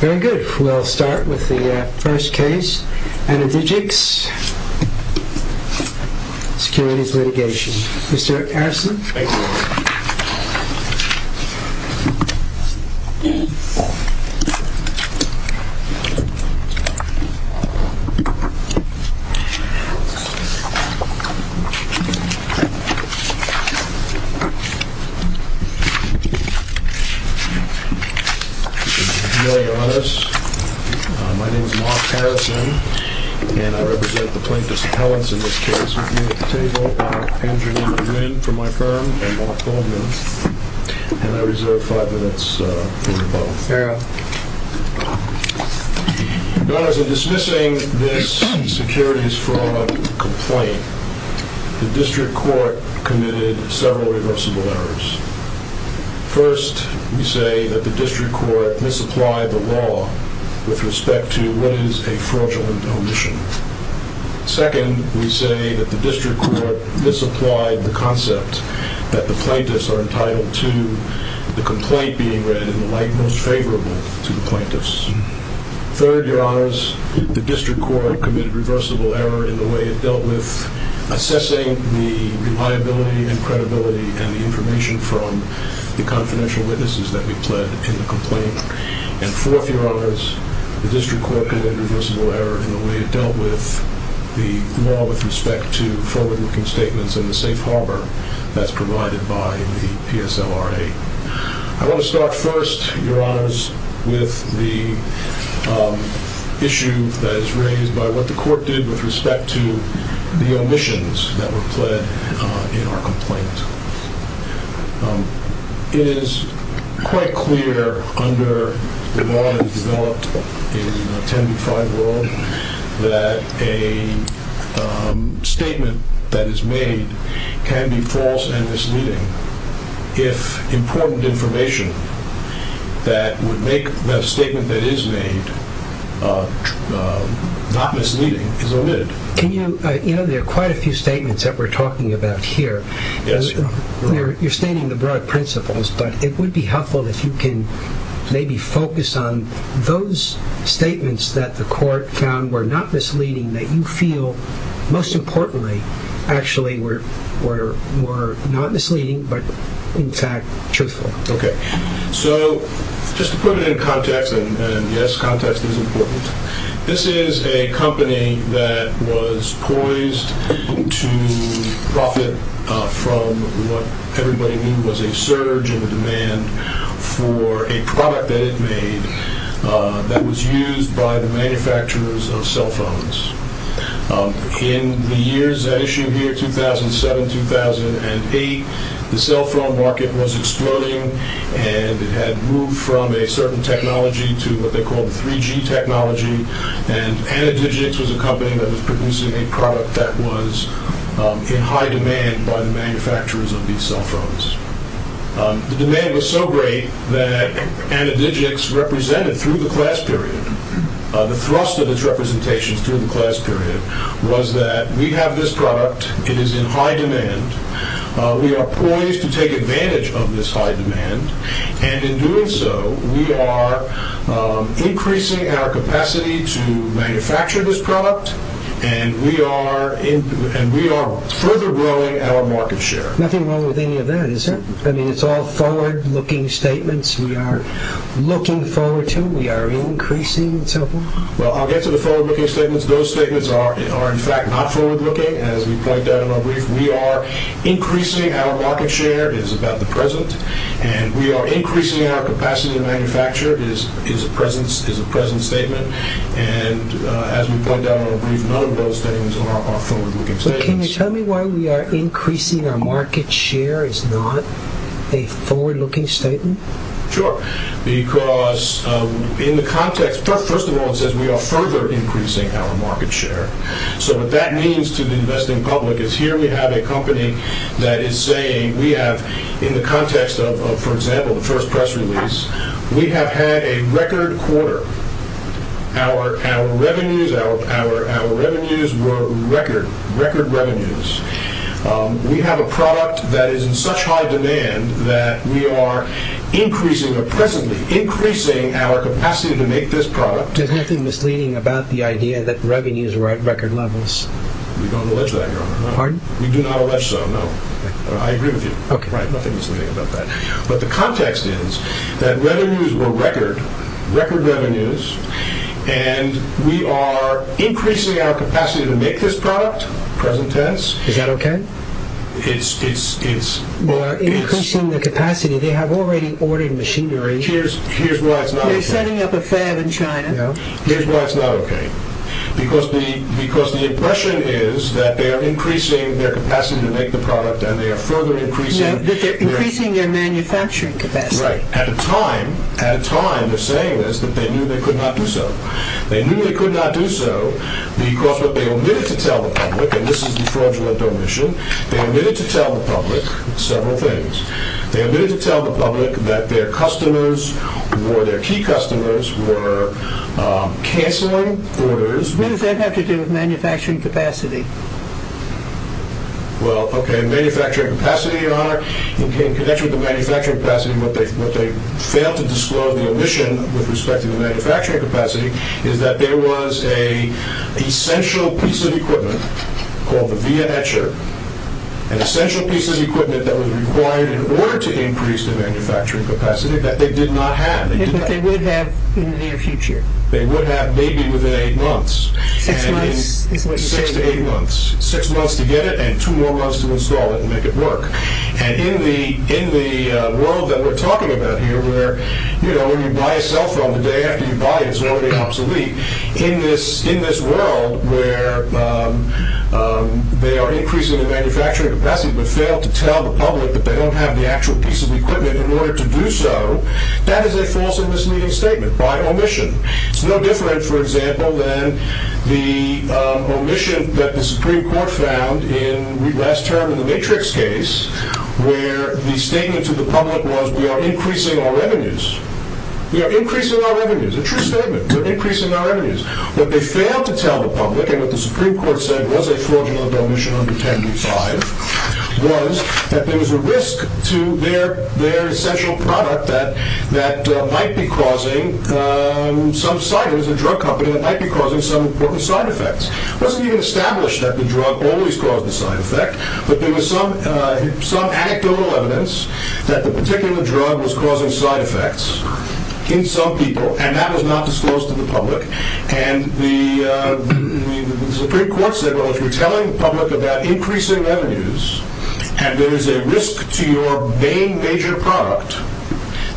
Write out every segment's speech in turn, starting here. Very good. We'll start with the first case, Anandijik's Securities Litigation. Thank you. To be very honest, my name is Mark Harrison, and I represent the plaintiffs' appellants in this case. With me at the table are Angelina Nguyen from my firm, and Mark Coleman, and I reserve five minutes for rebuttal. In dismissing this securities fraud complaint, the District Court committed several reversible errors. First, we say that the District Court misapplied the law with respect to what is a fraudulent omission. Second, we say that the District Court misapplied the concept that the plaintiffs are entitled to the complaint being read in the light most favorable to the plaintiffs. Third, Your Honors, the District Court committed reversible error in the way it dealt with assessing the reliability and credibility and the information from the confidential witnesses that we pled in the complaint. And fourth, Your Honors, the District Court committed reversible error in the way it dealt with the law with respect to forward-looking statements and the safe harbor that's provided by the PSLRA. I want to start first, Your Honors, with the issue that is raised by what the Court did with respect to the omissions that were pled in our complaint. It is quite clear under the law that is developed in 10b-5 world that a statement that is made can be false and misleading. If important information that would make the statement that is made not misleading is omitted. There are quite a few statements that we're talking about here. You're stating the broad principles, but it would be helpful if you can maybe focus on those statements that the Court found were not misleading that you feel, most importantly, actually were not misleading, but in fact, truthful. Just to put it in context, and yes, context is important. This is a company that was poised to profit from what everybody knew was a surge in the demand for a product that it made that was used by the manufacturers of cell phones. In the years that issue here, 2007-2008, the cell phone market was exploding and it had moved from a certain technology to what they called the 3G technology, and AnaDigix was a company that was producing a product that was in high demand by the manufacturers of these cell phones. The demand was so great that AnaDigix represented through the class period, the thrust of its representations through the class period, was that we have this product, it is in high demand, we are poised to take advantage of this high demand, and in doing so, we are increasing our capacity to manufacture this product, and we are further growing our market share. Nothing wrong with any of that, is there? I mean, it's all forward-looking statements, we are looking forward to, we are increasing cell phones? Well, I'll get to the forward-looking statements. Those statements are, in fact, not forward-looking, as we pointed out in our brief. We are increasing our market share, it is about the present, and we are increasing our capacity to manufacture, it is a present statement, and as we pointed out in our brief, none of those statements are forward-looking statements. Can you tell me why we are increasing our market share is not a forward-looking statement? Sure, because in the context, first of all, it says we are further increasing our market share. So what that means to the investing public is here we have a company that is saying we have, in the context of, for example, the first press release, we have had a record quarter. Our revenues were record, record revenues. We have a product that is in such high demand that we are increasing our capacity to make this product. There's nothing misleading about the idea that revenues were at record levels. We don't allege that, Your Honor. Pardon? We do not allege so, no. I agree with you. Okay. Right, nothing misleading about that. But the context is that revenues were record, record revenues, and we are increasing our capacity to make this product, present test. Is that okay? It's, it's, it's... We are increasing the capacity, they have already ordered machinery. Here's why it's not okay. You're setting up a fad in China. Here's why it's not okay. Because the, because the impression is that they are increasing their capacity to make the product and they are further increasing... No, that they're increasing their manufacturing capacity. Right. At a time, at a time, they're saying this, that they knew they could not do so. They knew they could not do so because what they omitted to tell the public, and this is the fraudulent omission, they omitted to tell the public several things. They omitted to tell the public that their customers or their key customers were canceling orders. What does that have to do with manufacturing capacity? Well, okay, manufacturing capacity, Your Honor, in connection with the manufacturing capacity, what they, what they failed to disclose, the omission with respect to the manufacturing capacity, is that there was a essential piece of equipment called the via etcher, an essential piece of equipment that was required in order to increase the manufacturing capacity, that they did not have. But they would have in the near future. They would have maybe within eight months. Six months is what you're saying. Six to eight months. Six months to get it and two more months to install it and make it work. And in the, in the world that we're talking about here where, you know, when you buy a cell phone, the day after you buy it, it's already obsolete. In this, in this world where they are increasing the manufacturing capacity but fail to tell the public that they don't have the actual piece of equipment in order to do so, that is a false and misleading statement by omission. It's no different, for example, than the omission that the Supreme Court found in last term in the Matrix case where the statement to the public was we are increasing our revenues. We are increasing our revenues. A true statement. We are increasing our revenues. What they failed to tell the public and what the Supreme Court said was a fraudulent omission under 10b-5 was that there was a risk to their, their essential product that, that might be causing some side, it was a drug company that might be causing some important side effects. It wasn't even established that the drug always caused the side effect, but there was some, some anecdotal evidence that the particular drug was causing side effects in some people and that was not disclosed to the public and the, the Supreme Court said, well if you are telling the public about increasing revenues and there is a risk to your main major product,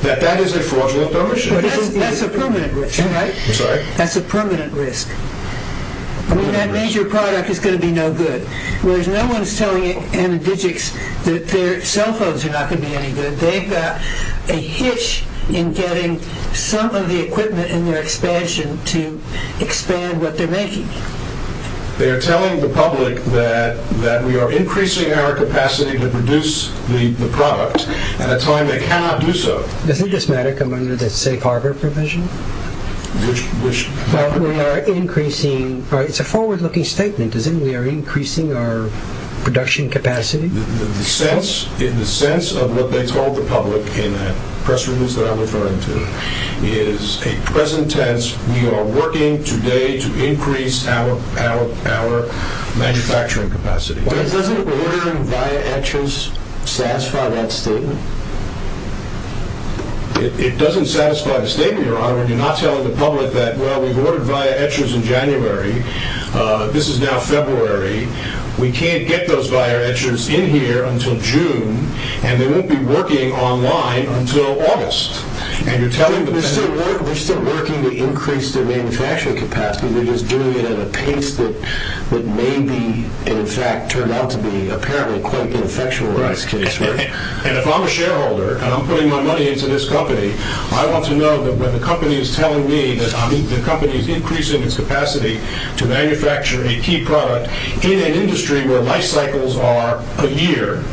that that is a fraudulent omission. That's a permanent risk, right? I'm sorry? That's a permanent risk. I mean that major product is going to be no good. Whereas no one is telling MDGICs that their cell phones are not going to be any good. They've got a hitch in getting some of the equipment in their expansion to expand what they're making. They are telling the public that, that we are increasing our capacity to produce the product at a time they cannot do so. Doesn't this matter come under the safe harbor provision? Which, which? Well we are increasing, it's a forward looking statement, isn't it? We are increasing our production capacity. The sense, the sense of what they told the public in that press release that I'm referring to is a present tense, we are working today to increase our, our, our manufacturing capacity. Doesn't ordering via Etchers satisfy that statement? It, it doesn't satisfy the statement, Your Honor. You're not telling the public that, well we've ordered via Etchers in January, this is now February. We can't get those via Etchers in here until June. And they won't be working online until August. And you're telling the public... We're still working, we're still working to increase their manufacturing capacity. We're just doing it at a pace that, that may be, in fact, turned out to be apparently quite ineffectual in this case. And if I'm a shareholder and I'm putting my money into this company, I want to know that when the company is telling me that the company is increasing its capacity to manufacture a key product, in an industry where life cycles are a year,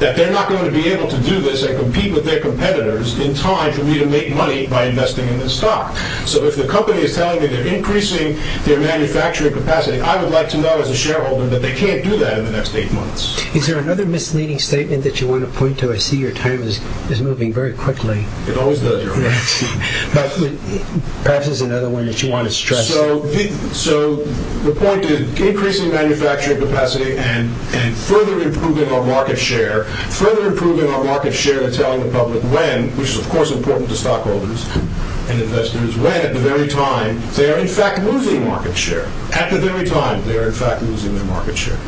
that they're not going to be able to do this and compete with their competitors in time for me to make money by investing in this stock. So if the company is telling me they're increasing their manufacturing capacity, I would like to know as a shareholder that they can't do that in the next eight months. Is there another misleading statement that you want to point to? I see your time is, is moving very quickly. It always does, Your Honor. Perhaps there's another one that you want to stress. So the point is increasing manufacturing capacity and further improving our market share, further improving our market share and telling the public when, which is of course important to stockholders and investors, when at the very time they are in fact losing market share. At the very time they are in fact losing their market share.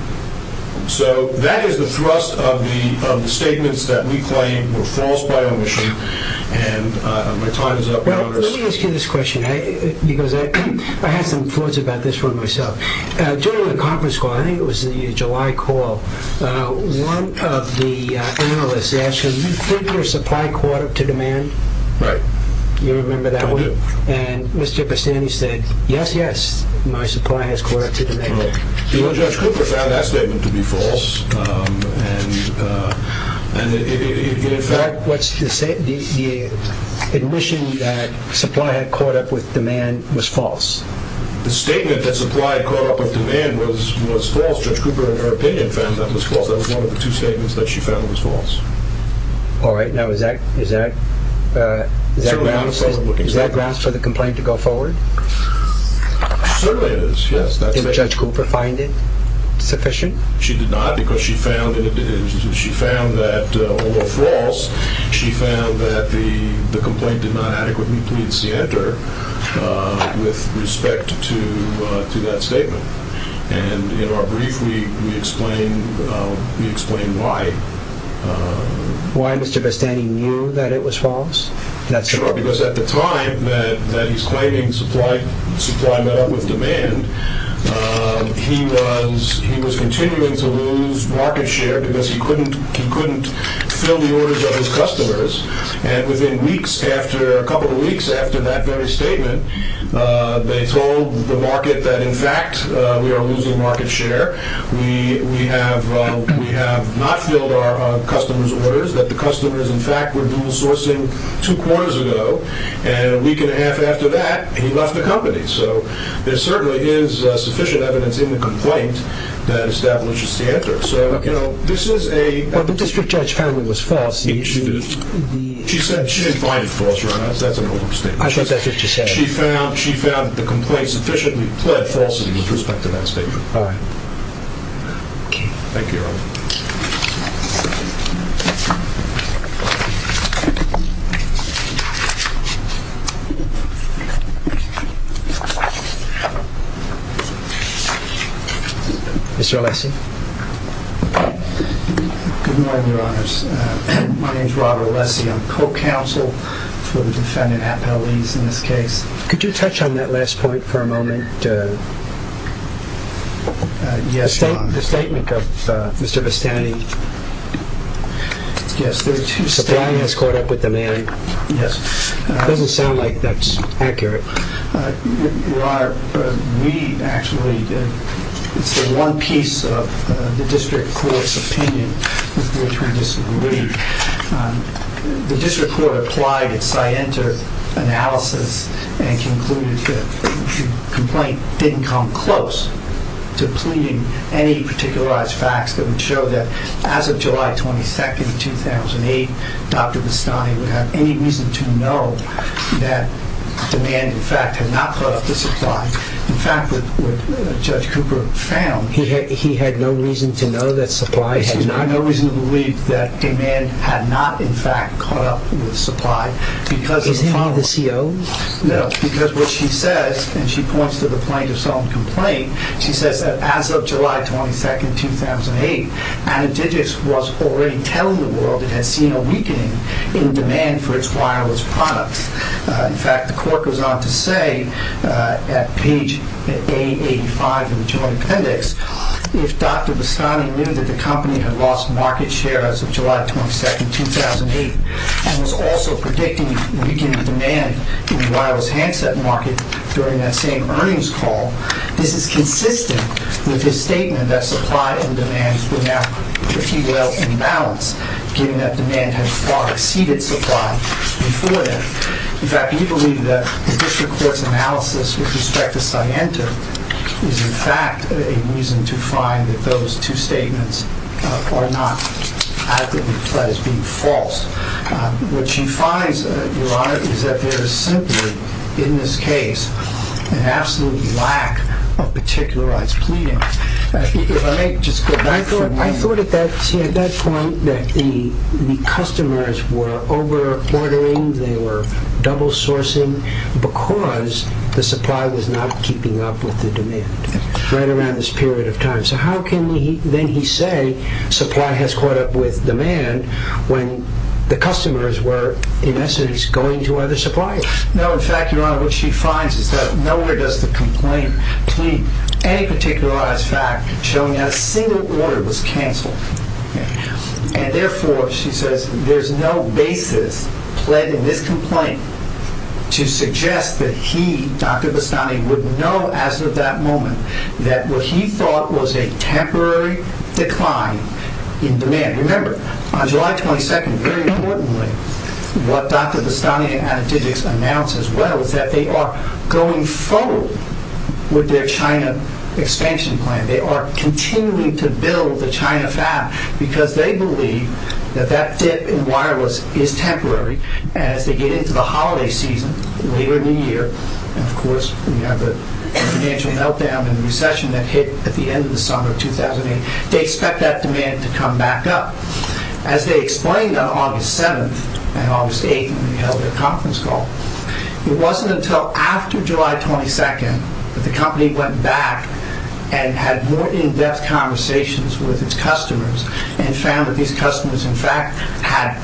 So that is the thrust of the statements that we claim were false by omission. And my time is up, Your Honor. Let me ask you this question because I had some thoughts about this one myself. During the conference call, I think it was the July call, one of the analysts asked him, do you think your supply caught up to demand? You remember that one? I do. And Mr. Bastani said, yes, yes, my supply has caught up to demand. Well, Judge Cooper found that statement to be false. The omission that supply had caught up with demand was false. The statement that supply had caught up with demand was false. Judge Cooper, in her opinion, found that was false. That was one of the two statements that she found was false. All right. Now is that grounds for the complaint to go forward? Certainly it is, yes. Did Judge Cooper find it sufficient? She did not because she found that, although false, she found that the complaint did not adequately please the editor with respect to that statement. And in our brief, we explain why. Why Mr. Bastani knew that it was false? Sure, because at the time that he's claiming supply met up with demand, he was continuing to lose market share because he couldn't fill the orders of his customers. And within weeks, a couple of weeks after that very statement, they told the market that, in fact, we are losing market share. We have not filled our customers' orders, that the customers, in fact, were dual sourcing two quarters ago. And a week and a half after that, he left the company. So there certainly is sufficient evidence in the complaint that establishes the editor. So, you know, this is a- Well, the district judge found it was false. She did. She said she didn't find it false. That's an old statement. I think that's what she said. She found that the complaint sufficiently pled falsely with respect to that statement. All right. Thank you. Thank you, Earl. Mr. Alessi? Good morning, Your Honors. My name is Robert Alessi. I'm co-counsel for the defendant, half-L.E.s in this case. Could you touch on that last point for a moment? Yes. The statement of Mr. Vestani. Yes. Supply has caught up with demand. Yes. It doesn't sound like that's accurate. Your Honor, we actually- It's the one piece of the district court's opinion with which we disagree. The district court applied its scientific analysis and concluded that the complaint didn't come close to pleading any particularized facts that would show that as of July 22, 2008, Dr. Vestani would have any reason to know that demand, in fact, had not caught up with supply. In fact, what Judge Cooper found- He had no reason to know that supply had- He had no reason to believe that demand had not, in fact, caught up with supply because of- Is he the CO? No, because what she says, and she points to the plaintiff's own complaint, she says that as of July 22, 2008, Ana Digis was already telling the world it had seen a weakening in demand for its wireless products. In fact, the court goes on to say at page 885 of the joint appendix, if Dr. Vestani knew that the company had lost market share as of July 22, 2008 and was also predicting weakened demand in the wireless handset market during that same earnings call, this is consistent with his statement that supply and demand were now pretty well in balance, given that demand had far exceeded supply before then. In fact, we believe that the district court's analysis with respect to Sciento is, in fact, a reason to find that those two statements are not adequately fled as being false. What she finds, Your Honor, is that there is simply, in this case, an absolute lack of particularized pleading. If I may just go back for a minute- I thought at that point that the customers were over-ordering, they were double-sourcing because the supply was not keeping up with the demand, right around this period of time. So how can then he say supply has caught up with demand when the customers were, in essence, going to other suppliers? No, in fact, Your Honor, what she finds is that nowhere does the complaint plead any particularized fact showing that a single order was canceled. And therefore, she says, there's no basis pled in this complaint to suggest that he, Dr. Vestani, would know as of that moment that what he thought was a temporary decline in demand. Remember, on July 22nd, very importantly, what Dr. Vestani and Adedijic announced as well is that they are going full with their China expansion plan. They are continuing to build the China fab because they believe that that dip in wireless is temporary. And as they get into the holiday season, later in the year, and, of course, we have the financial meltdown and recession that hit at the end of the summer of 2008, they expect that demand to come back up. As they explained on August 7th and August 8th when they held their conference call, it wasn't until after July 22nd that the company went back and had more in-depth conversations with its customers and found that these customers, in fact, had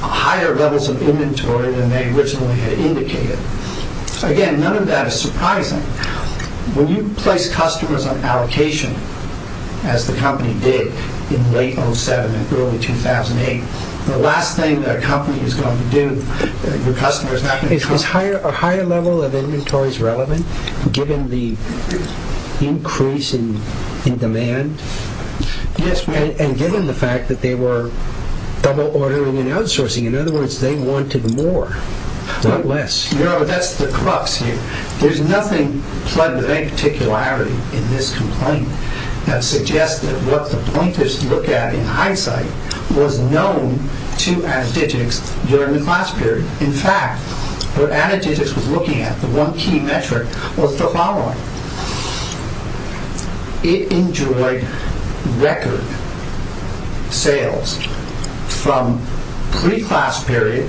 higher levels of inventory than they originally had indicated. Again, none of that is surprising. When you place customers on allocation, as the company did in late 2007 and early 2008, the last thing that a company is going to do, your customer is not going to come back. Is a higher level of inventories relevant, given the increase in demand? Yes, and given the fact that they were double-ordering and outsourcing. In other words, they wanted more, not less. No, that's the crux here. There's nothing plugged with any particularity in this complaint that suggests that what the plaintiffs looked at in hindsight was known to Addigix during the class period. In fact, what Addigix was looking at, the one key metric, was the following. It enjoyed record sales from pre-class period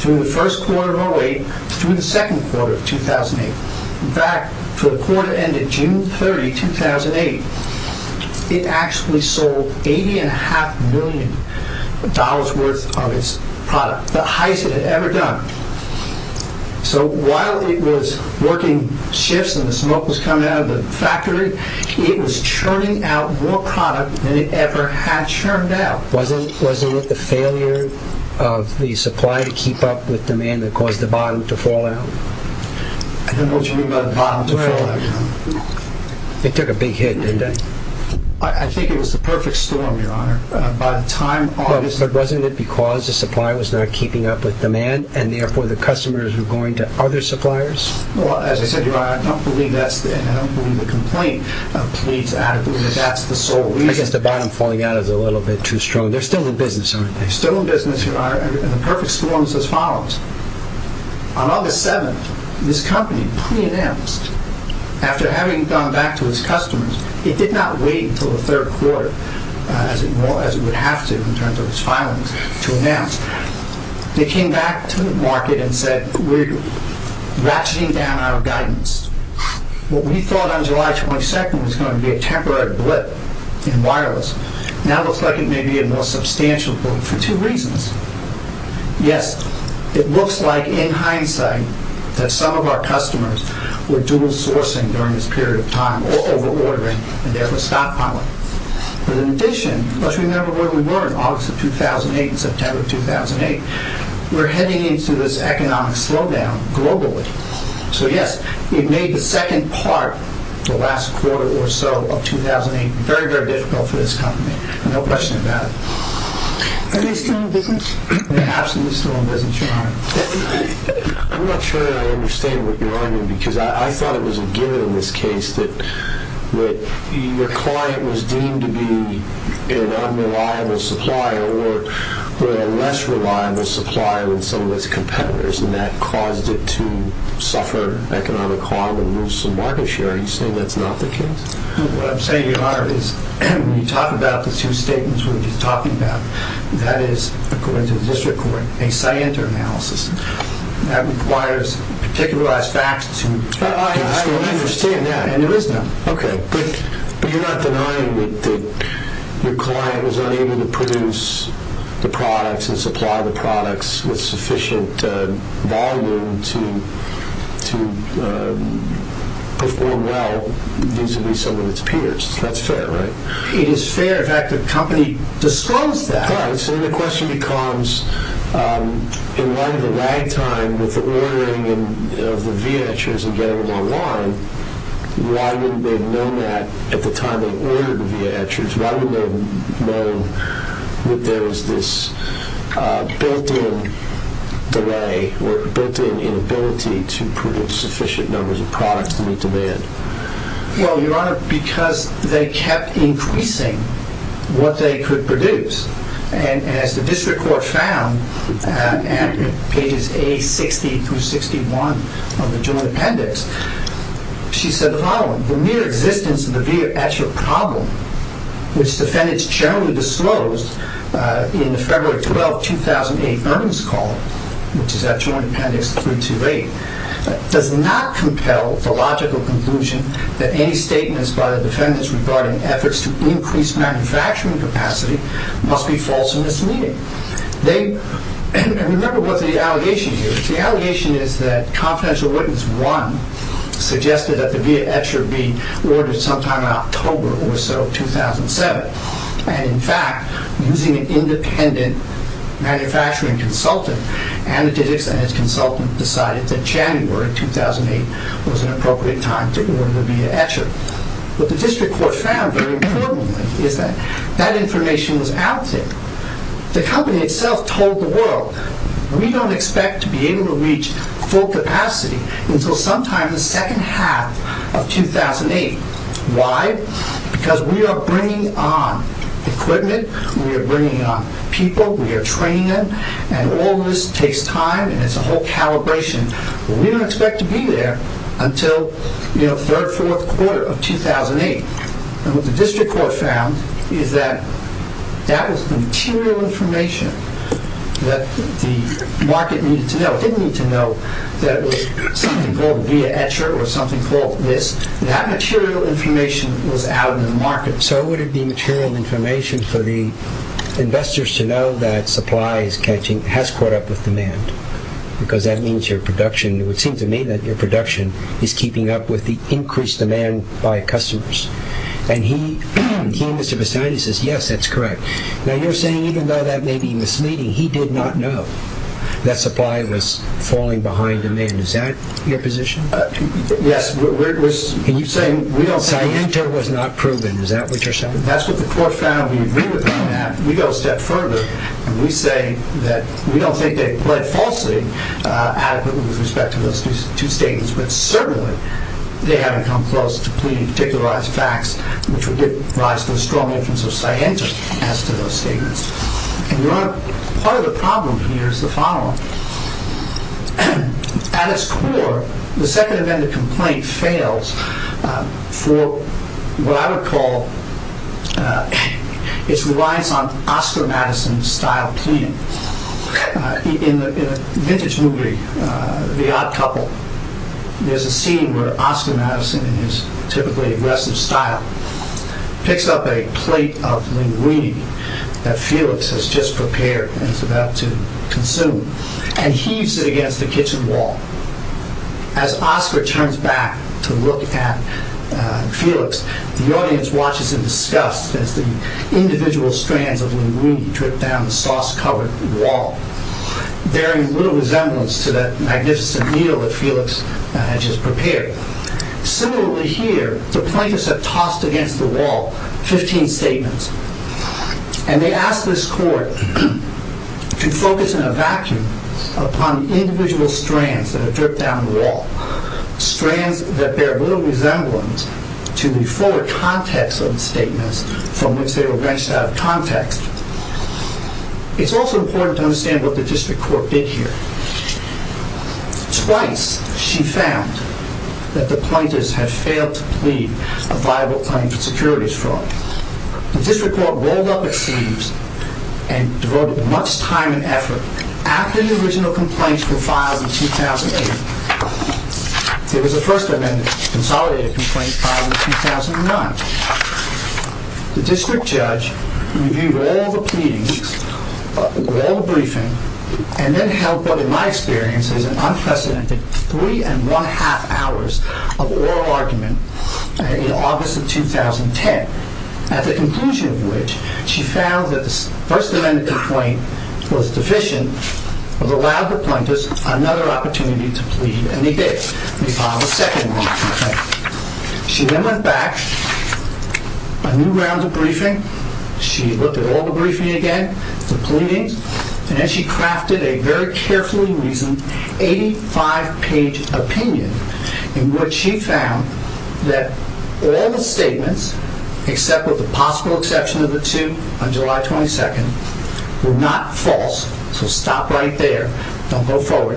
through the first quarter of 2008 through the second quarter of 2008, back to the quarter end of June 30, 2008. It actually sold $80.5 million worth of its product, the highest it had ever done. So while it was working shifts and the smoke was coming out of the factory, it was churning out more product than it ever had churned out. Wasn't it the failure of the supply to keep up with demand that caused the bottom to fall out? What do you mean by the bottom to fall out? It took a big hit, didn't it? I think it was the perfect storm, Your Honor. But wasn't it because the supply was not keeping up with demand and therefore the customers were going to other suppliers? Well, as I said, Your Honor, I don't believe the complaint pleads adequately. That's the sole reason. I guess the bottom falling out is a little bit too strong. They're still in business, aren't they? They're still in business, Your Honor, and the perfect storm is as follows. On August 7, this company pre-announced, after having gone back to its customers, it did not wait until the third quarter, as it would have to in terms of its filings, to announce. They came back to the market and said, we're ratcheting down our guidance. What we thought on July 22 was going to be a temporary blip in wireless now looks like it may be a more substantial blip for two reasons. Yes, it looks like, in hindsight, that some of our customers were dual sourcing during this period of time or over-ordering and therefore stockpiling. But in addition, let's remember where we were in August of 2008 and September of 2008. We're heading into this economic slowdown globally. So yes, it made the second part, the last quarter or so of 2008, very, very difficult for this company. No question about it. Are they still in business? They're absolutely still in business, Your Honor. I'm not sure I understand what you're arguing because I thought it was a given in this case that your client was deemed to be an unreliable supplier or a less reliable supplier than some of its competitors and that caused it to suffer economic harm and lose some market share. Are you saying that's not the case? What I'm saying, Your Honor, is when you talk about the two statements we've been talking about, that is, according to the district court, a scienter analysis. That requires particularized facts. I don't understand that. And there is none. Okay. But you're not denying that your client was unable to produce the products and supply the products with sufficient volume to perform well vis-à-vis some of its peers. That's fair, right? It is fair. In fact, the company disclosed that. Right. So then the question becomes, in light of the lag time with the ordering of the Via Etchers and getting them online, why wouldn't they have known that at the time they ordered the Via Etchers? Why wouldn't they have known that there was this built-in delay or built-in inability to produce sufficient numbers of products to meet demand? Well, Your Honor, because they kept increasing what they could produce. And as the district court found in pages A60 through 61 of the joint appendix, she said the following. The mere existence of the Via Etcher problem, which defendants generally disclosed in the February 12, 2008, earnings call, which is at joint appendix 328, does not compel the logical conclusion that any statements by the defendants regarding efforts to increase manufacturing capacity must be false in this meeting. And remember what the allegation here is. The allegation is that confidential witness one suggested that the Via Etcher be ordered sometime in October or so of 2007. And in fact, using an independent manufacturing consultant, Analytics and its consultant decided that January 2008 was an appropriate time to order the Via Etcher. What the district court found, very importantly, is that that information was out there. The company itself told the world, we don't expect to be able to reach full capacity until sometime in the second half of 2008. Why? Because we are bringing on equipment, we are bringing on people, we are training them, and all this takes time and it's a whole calibration. We don't expect to be there until third, fourth quarter of 2008. And what the district court found is that that was material information that the market needed to know. It didn't need to know that it was something called Via Etcher or something called this. That material information was out in the market. So would it be material information for the investors to know that supply has caught up with demand? Because that means your production, it would seem to me that your production is keeping up with the increased demand by customers. And he, Mr. Vestani, says yes, that's correct. Now you're saying even though that may be misleading, he did not know that supply was falling behind demand. Is that your position? Yes. And you're saying Sienta was not proven. Is that what you're saying? That's what the court found. We agree with that. We go a step further and we say that we don't think they've pled falsely adequately with respect to those two statements, but certainly they haven't come close to pleading to particularize facts which would give rise to a strong influence of Sienta as to those statements. And part of the problem here is the following. At its core, the second event of complaint fails for what I would call its reliance on Oscar Madison style cleaning. In a vintage movie, The Odd Couple, there's a scene where Oscar Madison in his typically aggressive style picks up a plate of linguine that Felix has just prepared and is about to consume and heaves it against the kitchen wall. As Oscar turns back to look at Felix, the audience watches in disgust as the individual strands of linguine drip down the sauce-covered wall, bearing little resemblance to that magnificent meal that Felix had just prepared. Similarly here, the plaintiffs have tossed against the wall 15 statements. And they ask this court to focus in a vacuum upon individual strands that have dripped down the wall, strands that bear little resemblance to the fuller context of the statements from which they were wrenched out of context. It's also important to understand what the district court did here. Twice she found that the plaintiffs had failed to plead a viable claim for securities fraud. The district court rolled up its sleeves and devoted much time and effort after the original complaints were filed in 2008. There was a First Amendment consolidated complaint filed in 2009. The district judge reviewed all the pleadings, all the briefing, and then held what in my experience is an unprecedented three and one half hours of oral argument in August of 2010, at the conclusion of which she found that the First Amendment complaint was deficient of allowing the plaintiffs another opportunity to plead. And they did. They filed a second one. She then went back, a new round of briefing. She looked at all the briefing again, the pleadings. And then she crafted a very carefully reasoned 85-page opinion in which she found that all the statements, except with the possible exception of the two on July 22nd, were not false. So stop right there. Don't go forward.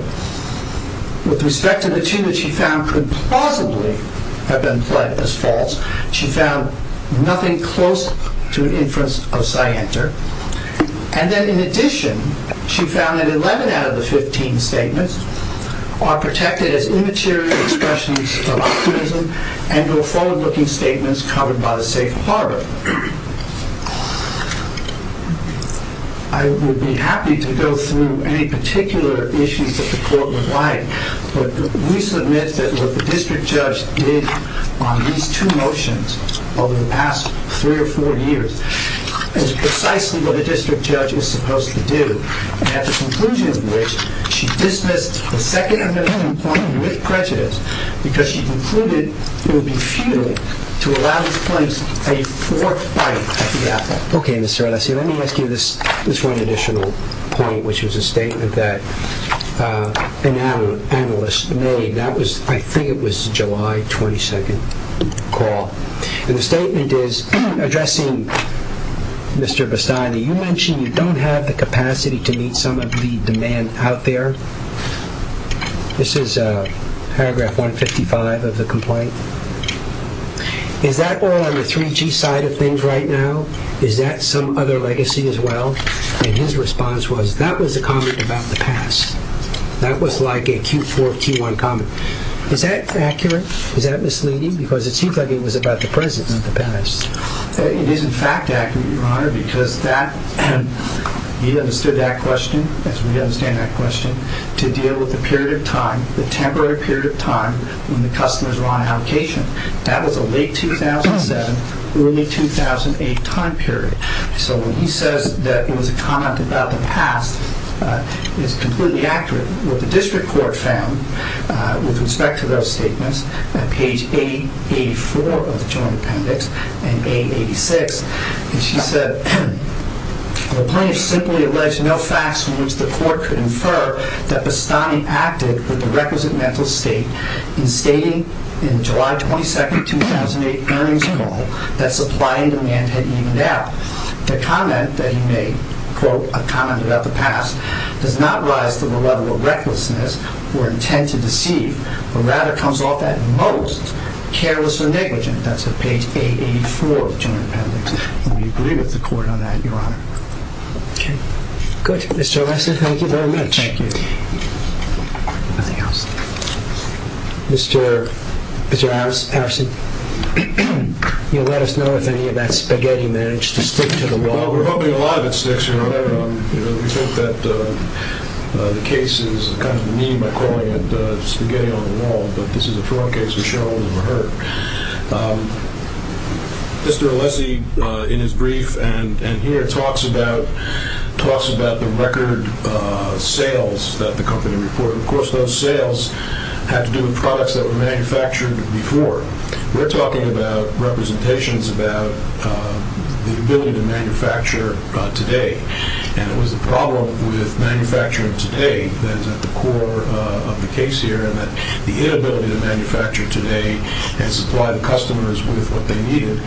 With respect to the two that she found could plausibly have been pled as false, she found nothing close to an inference of scienter. And then in addition, she found that 11 out of the 15 statements are protected as immature expressions of optimism and go forward looking statements covered by the safe harbor. So I would be happy to go through any particular issues that the court would like. But we submit that what the district judge did on these two motions over the past three or four years is precisely what a district judge is supposed to do. At the conclusion of which, she dismissed the Second Amendment complaint with prejudice because she concluded it would be futile to allow this place a fourth bite at the apple. Okay, Mr. Alessio, let me ask you this one additional point, which was a statement that an analyst made. I think it was a July 22nd call. And the statement is addressing Mr. Bastani. You mentioned you don't have the capacity to meet some of the demand out there. This is paragraph 155 of the complaint. Is that all on the 3G side of things right now? Is that some other legacy as well? And his response was, that was a comment about the past. That was like a Q4, Q1 comment. Is that accurate? Is that misleading? Because it seems like it was about the presence of the past. It is in fact accurate, Your Honor, because he understood that question, as we understand that question, to deal with the period of time, the temporary period of time when the customers were on allocation. That was a late 2007, early 2008 time period. So when he says that it was a comment about the past, it is completely accurate. What the district court found, with respect to those statements, at page 884 of the joint appendix and 886, is he said, the plaintiff simply alleged no facts from which the court could infer that Bastani acted with the requisite mental state in stating in July 22, 2008, that supply and demand had evened out. The comment that he made, quote, a comment about the past, does not rise to the level of recklessness or intent to deceive, but rather comes off at most careless or negligent. That's at page 884 of the joint appendix. And we agree with the court on that, Your Honor. Okay. Good. Mr. Ressler, thank you very much. Thank you. Anything else? Mr. Harrison, you'll let us know if any of that spaghetti managed to stick to the wall. Well, we're hoping a lot of it sticks, Your Honor. We think that the case is kind of mean by calling it spaghetti on the wall, but this is a fraud case, we're sure it will never hurt. Mr. Alessi, in his brief and here, he talks about the record sales that the company reported. Of course, those sales had to do with products that were manufactured before. We're talking about representations about the ability to manufacture today. And it was the problem with manufacturing today that is at the core of the case here, and that the inability to manufacture today and supply the customers with what they needed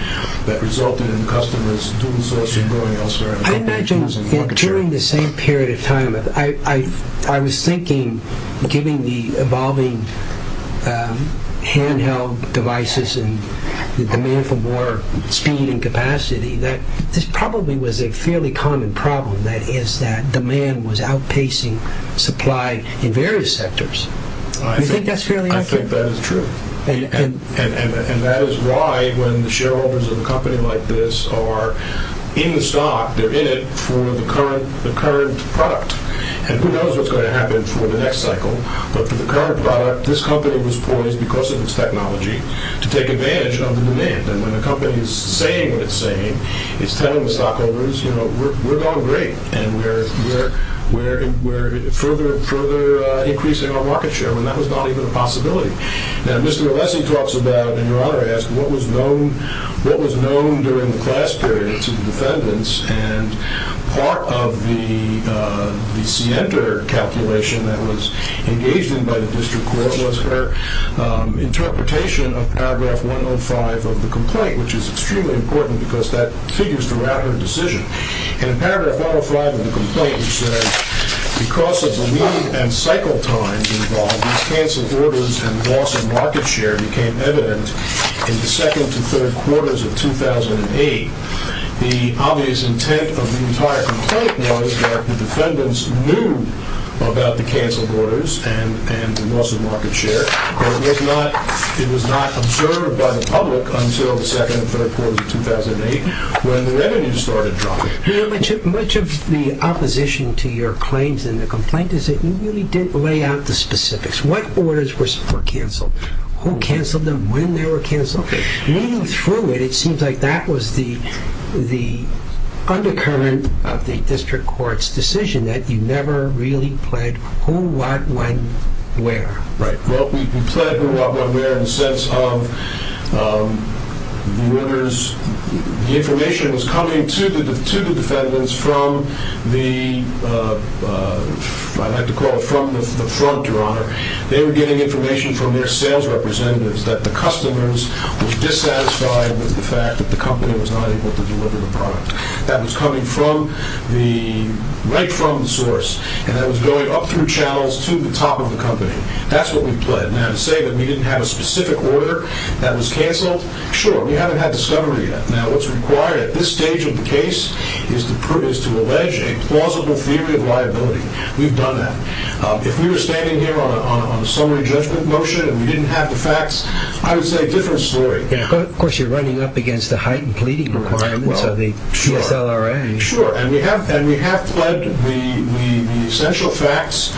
that resulted in the customers doing so and going elsewhere. I imagine, during the same period of time, I was thinking, given the evolving handheld devices and the demand for more speed and capacity, that this probably was a fairly common problem, that is that demand was outpacing supply in various sectors. Do you think that's fairly accurate? I think that is true. And that is why, when the shareholders of a company like this are in the stock, they're in it for the current product. And who knows what's going to happen for the next cycle, but for the current product, this company was poised, because of its technology, to take advantage of the demand. And when a company is saying what it's saying, it's telling the stockholders, you know, we're going great, and we're further and further increasing our market share, when that was not even a possibility. Now, Mr. Alessi talks about, and Your Honor asked, what was known during the class period to the defendants, and part of the scienter calculation that was engaged in by the district court was her interpretation of paragraph 105 of the complaint, which is extremely important because that figures throughout her decision. And in paragraph 105 of the complaint, it says, because of the lead and cycle times involved, these canceled orders and loss of market share became evident in the second to third quarters of 2008. The obvious intent of the entire complaint was that the defendants knew about the canceled orders and the loss of market share, but it was not observed by the public until the second and third quarters of 2008 when the revenues started dropping. Much of the opposition to your claims in the complaint is that you really didn't lay out the specifics. What orders were canceled? Who canceled them? When they were canceled? Reading through it, it seems like that was the undercurrent of the district court's decision, that you never really pled who, what, when, where. Right. Well, we pled who, what, when, where in the sense of the information was coming to the defendants from the front, Your Honor. They were getting information from their sales representatives that the customers were dissatisfied with the fact that the company was not able to deliver the product. That was coming right from the source, and that was going up through channels to the top of the company. That's what we pled. Now, to say that we didn't have a specific order that was canceled, sure, we haven't had discovery yet. Now, what's required at this stage of the case is to allege a plausible theory of liability. We've done that. If we were standing here on a summary judgment motion and we didn't have the facts, I would say a different story. Of course, you're running up against the heightened pleading requirements of the PSLRA. Sure, and we have pled the essential facts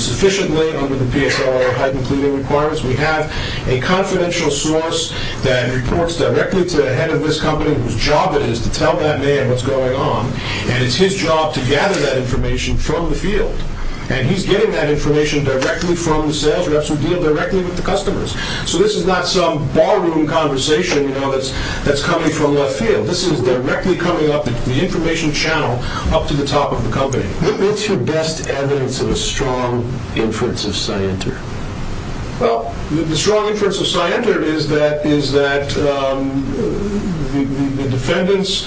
sufficiently under the PSLRA heightened pleading requirements. We have a confidential source that reports directly to the head of this company whose job it is to tell that man what's going on, and it's his job to gather that information from the field. And he's getting that information directly from the sales reps who deal directly with the customers. So this is not some ballroom conversation that's coming from left field. This is directly coming up the information channel up to the top of the company. What's your best evidence of a strong inference of scienter? Well, the strong inference of scienter is that the defendants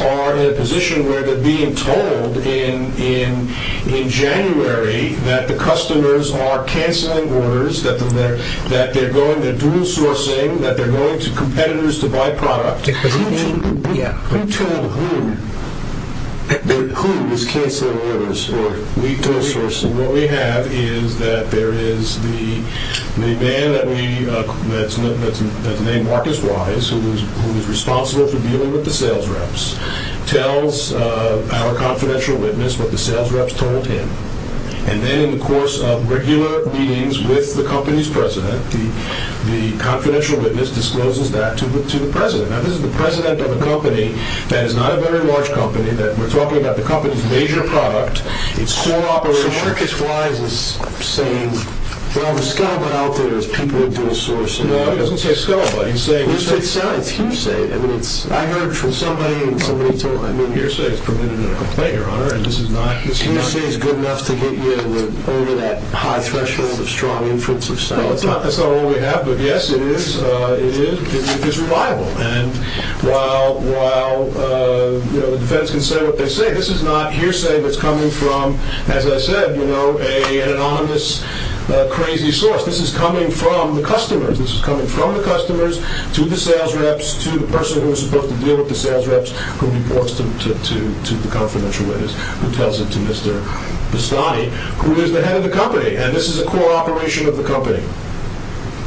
are in a position where they're being told in January that the customers are canceling orders, that they're dual sourcing, that they're going to competitors to buy product. Who told whom that who is canceling orders or dual sourcing? So what we have is that there is the man that's named Marcus Wise who is responsible for dealing with the sales reps, tells our confidential witness what the sales reps told him. And then in the course of regular meetings with the company's president, the confidential witness discloses that to the president. Now this is the president of a company that is not a very large company, that we're talking about the company's major product. It's core operation. So Marcus Wise is saying, well, the scumbag out there is people are dual sourcing. No, he doesn't say scumbag. He's saying hearsay. Hearsay science. Hearsay. I mean, it's… I heard from somebody and somebody told me, I mean, hearsay is permitted in a complaint, Your Honor, and this is not… Hearsay is good enough to get you over that high threshold of strong inference of science. That's not all we have, but yes, it is. It is. It's reliable. And while the defense can say what they say, this is not hearsay that's coming from, as I said, you know, an anonymous crazy source. This is coming from the customers. This is coming from the customers to the sales reps to the person who is supposed to deal with the sales reps who reports to the confidential witness, who tells it to Mr. Bastani, who is the head of the company, and this is a core operation of the company.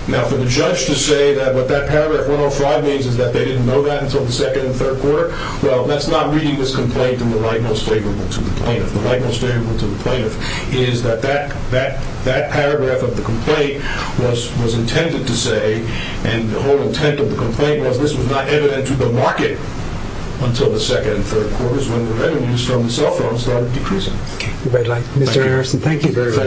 Now for the judge to say that what that paragraph 105 means is that they didn't know that until the second and third quarter, well, that's not reading this complaint in the light most favorable to the plaintiff. The light most favorable to the plaintiff is that that paragraph of the complaint was intended to say, and the whole intent of the complaint was this was not evident to the market until the second and third quarters when the revenues from the cell phones started decreasing. Okay. Mr. Harrison, thank you. My pleasure.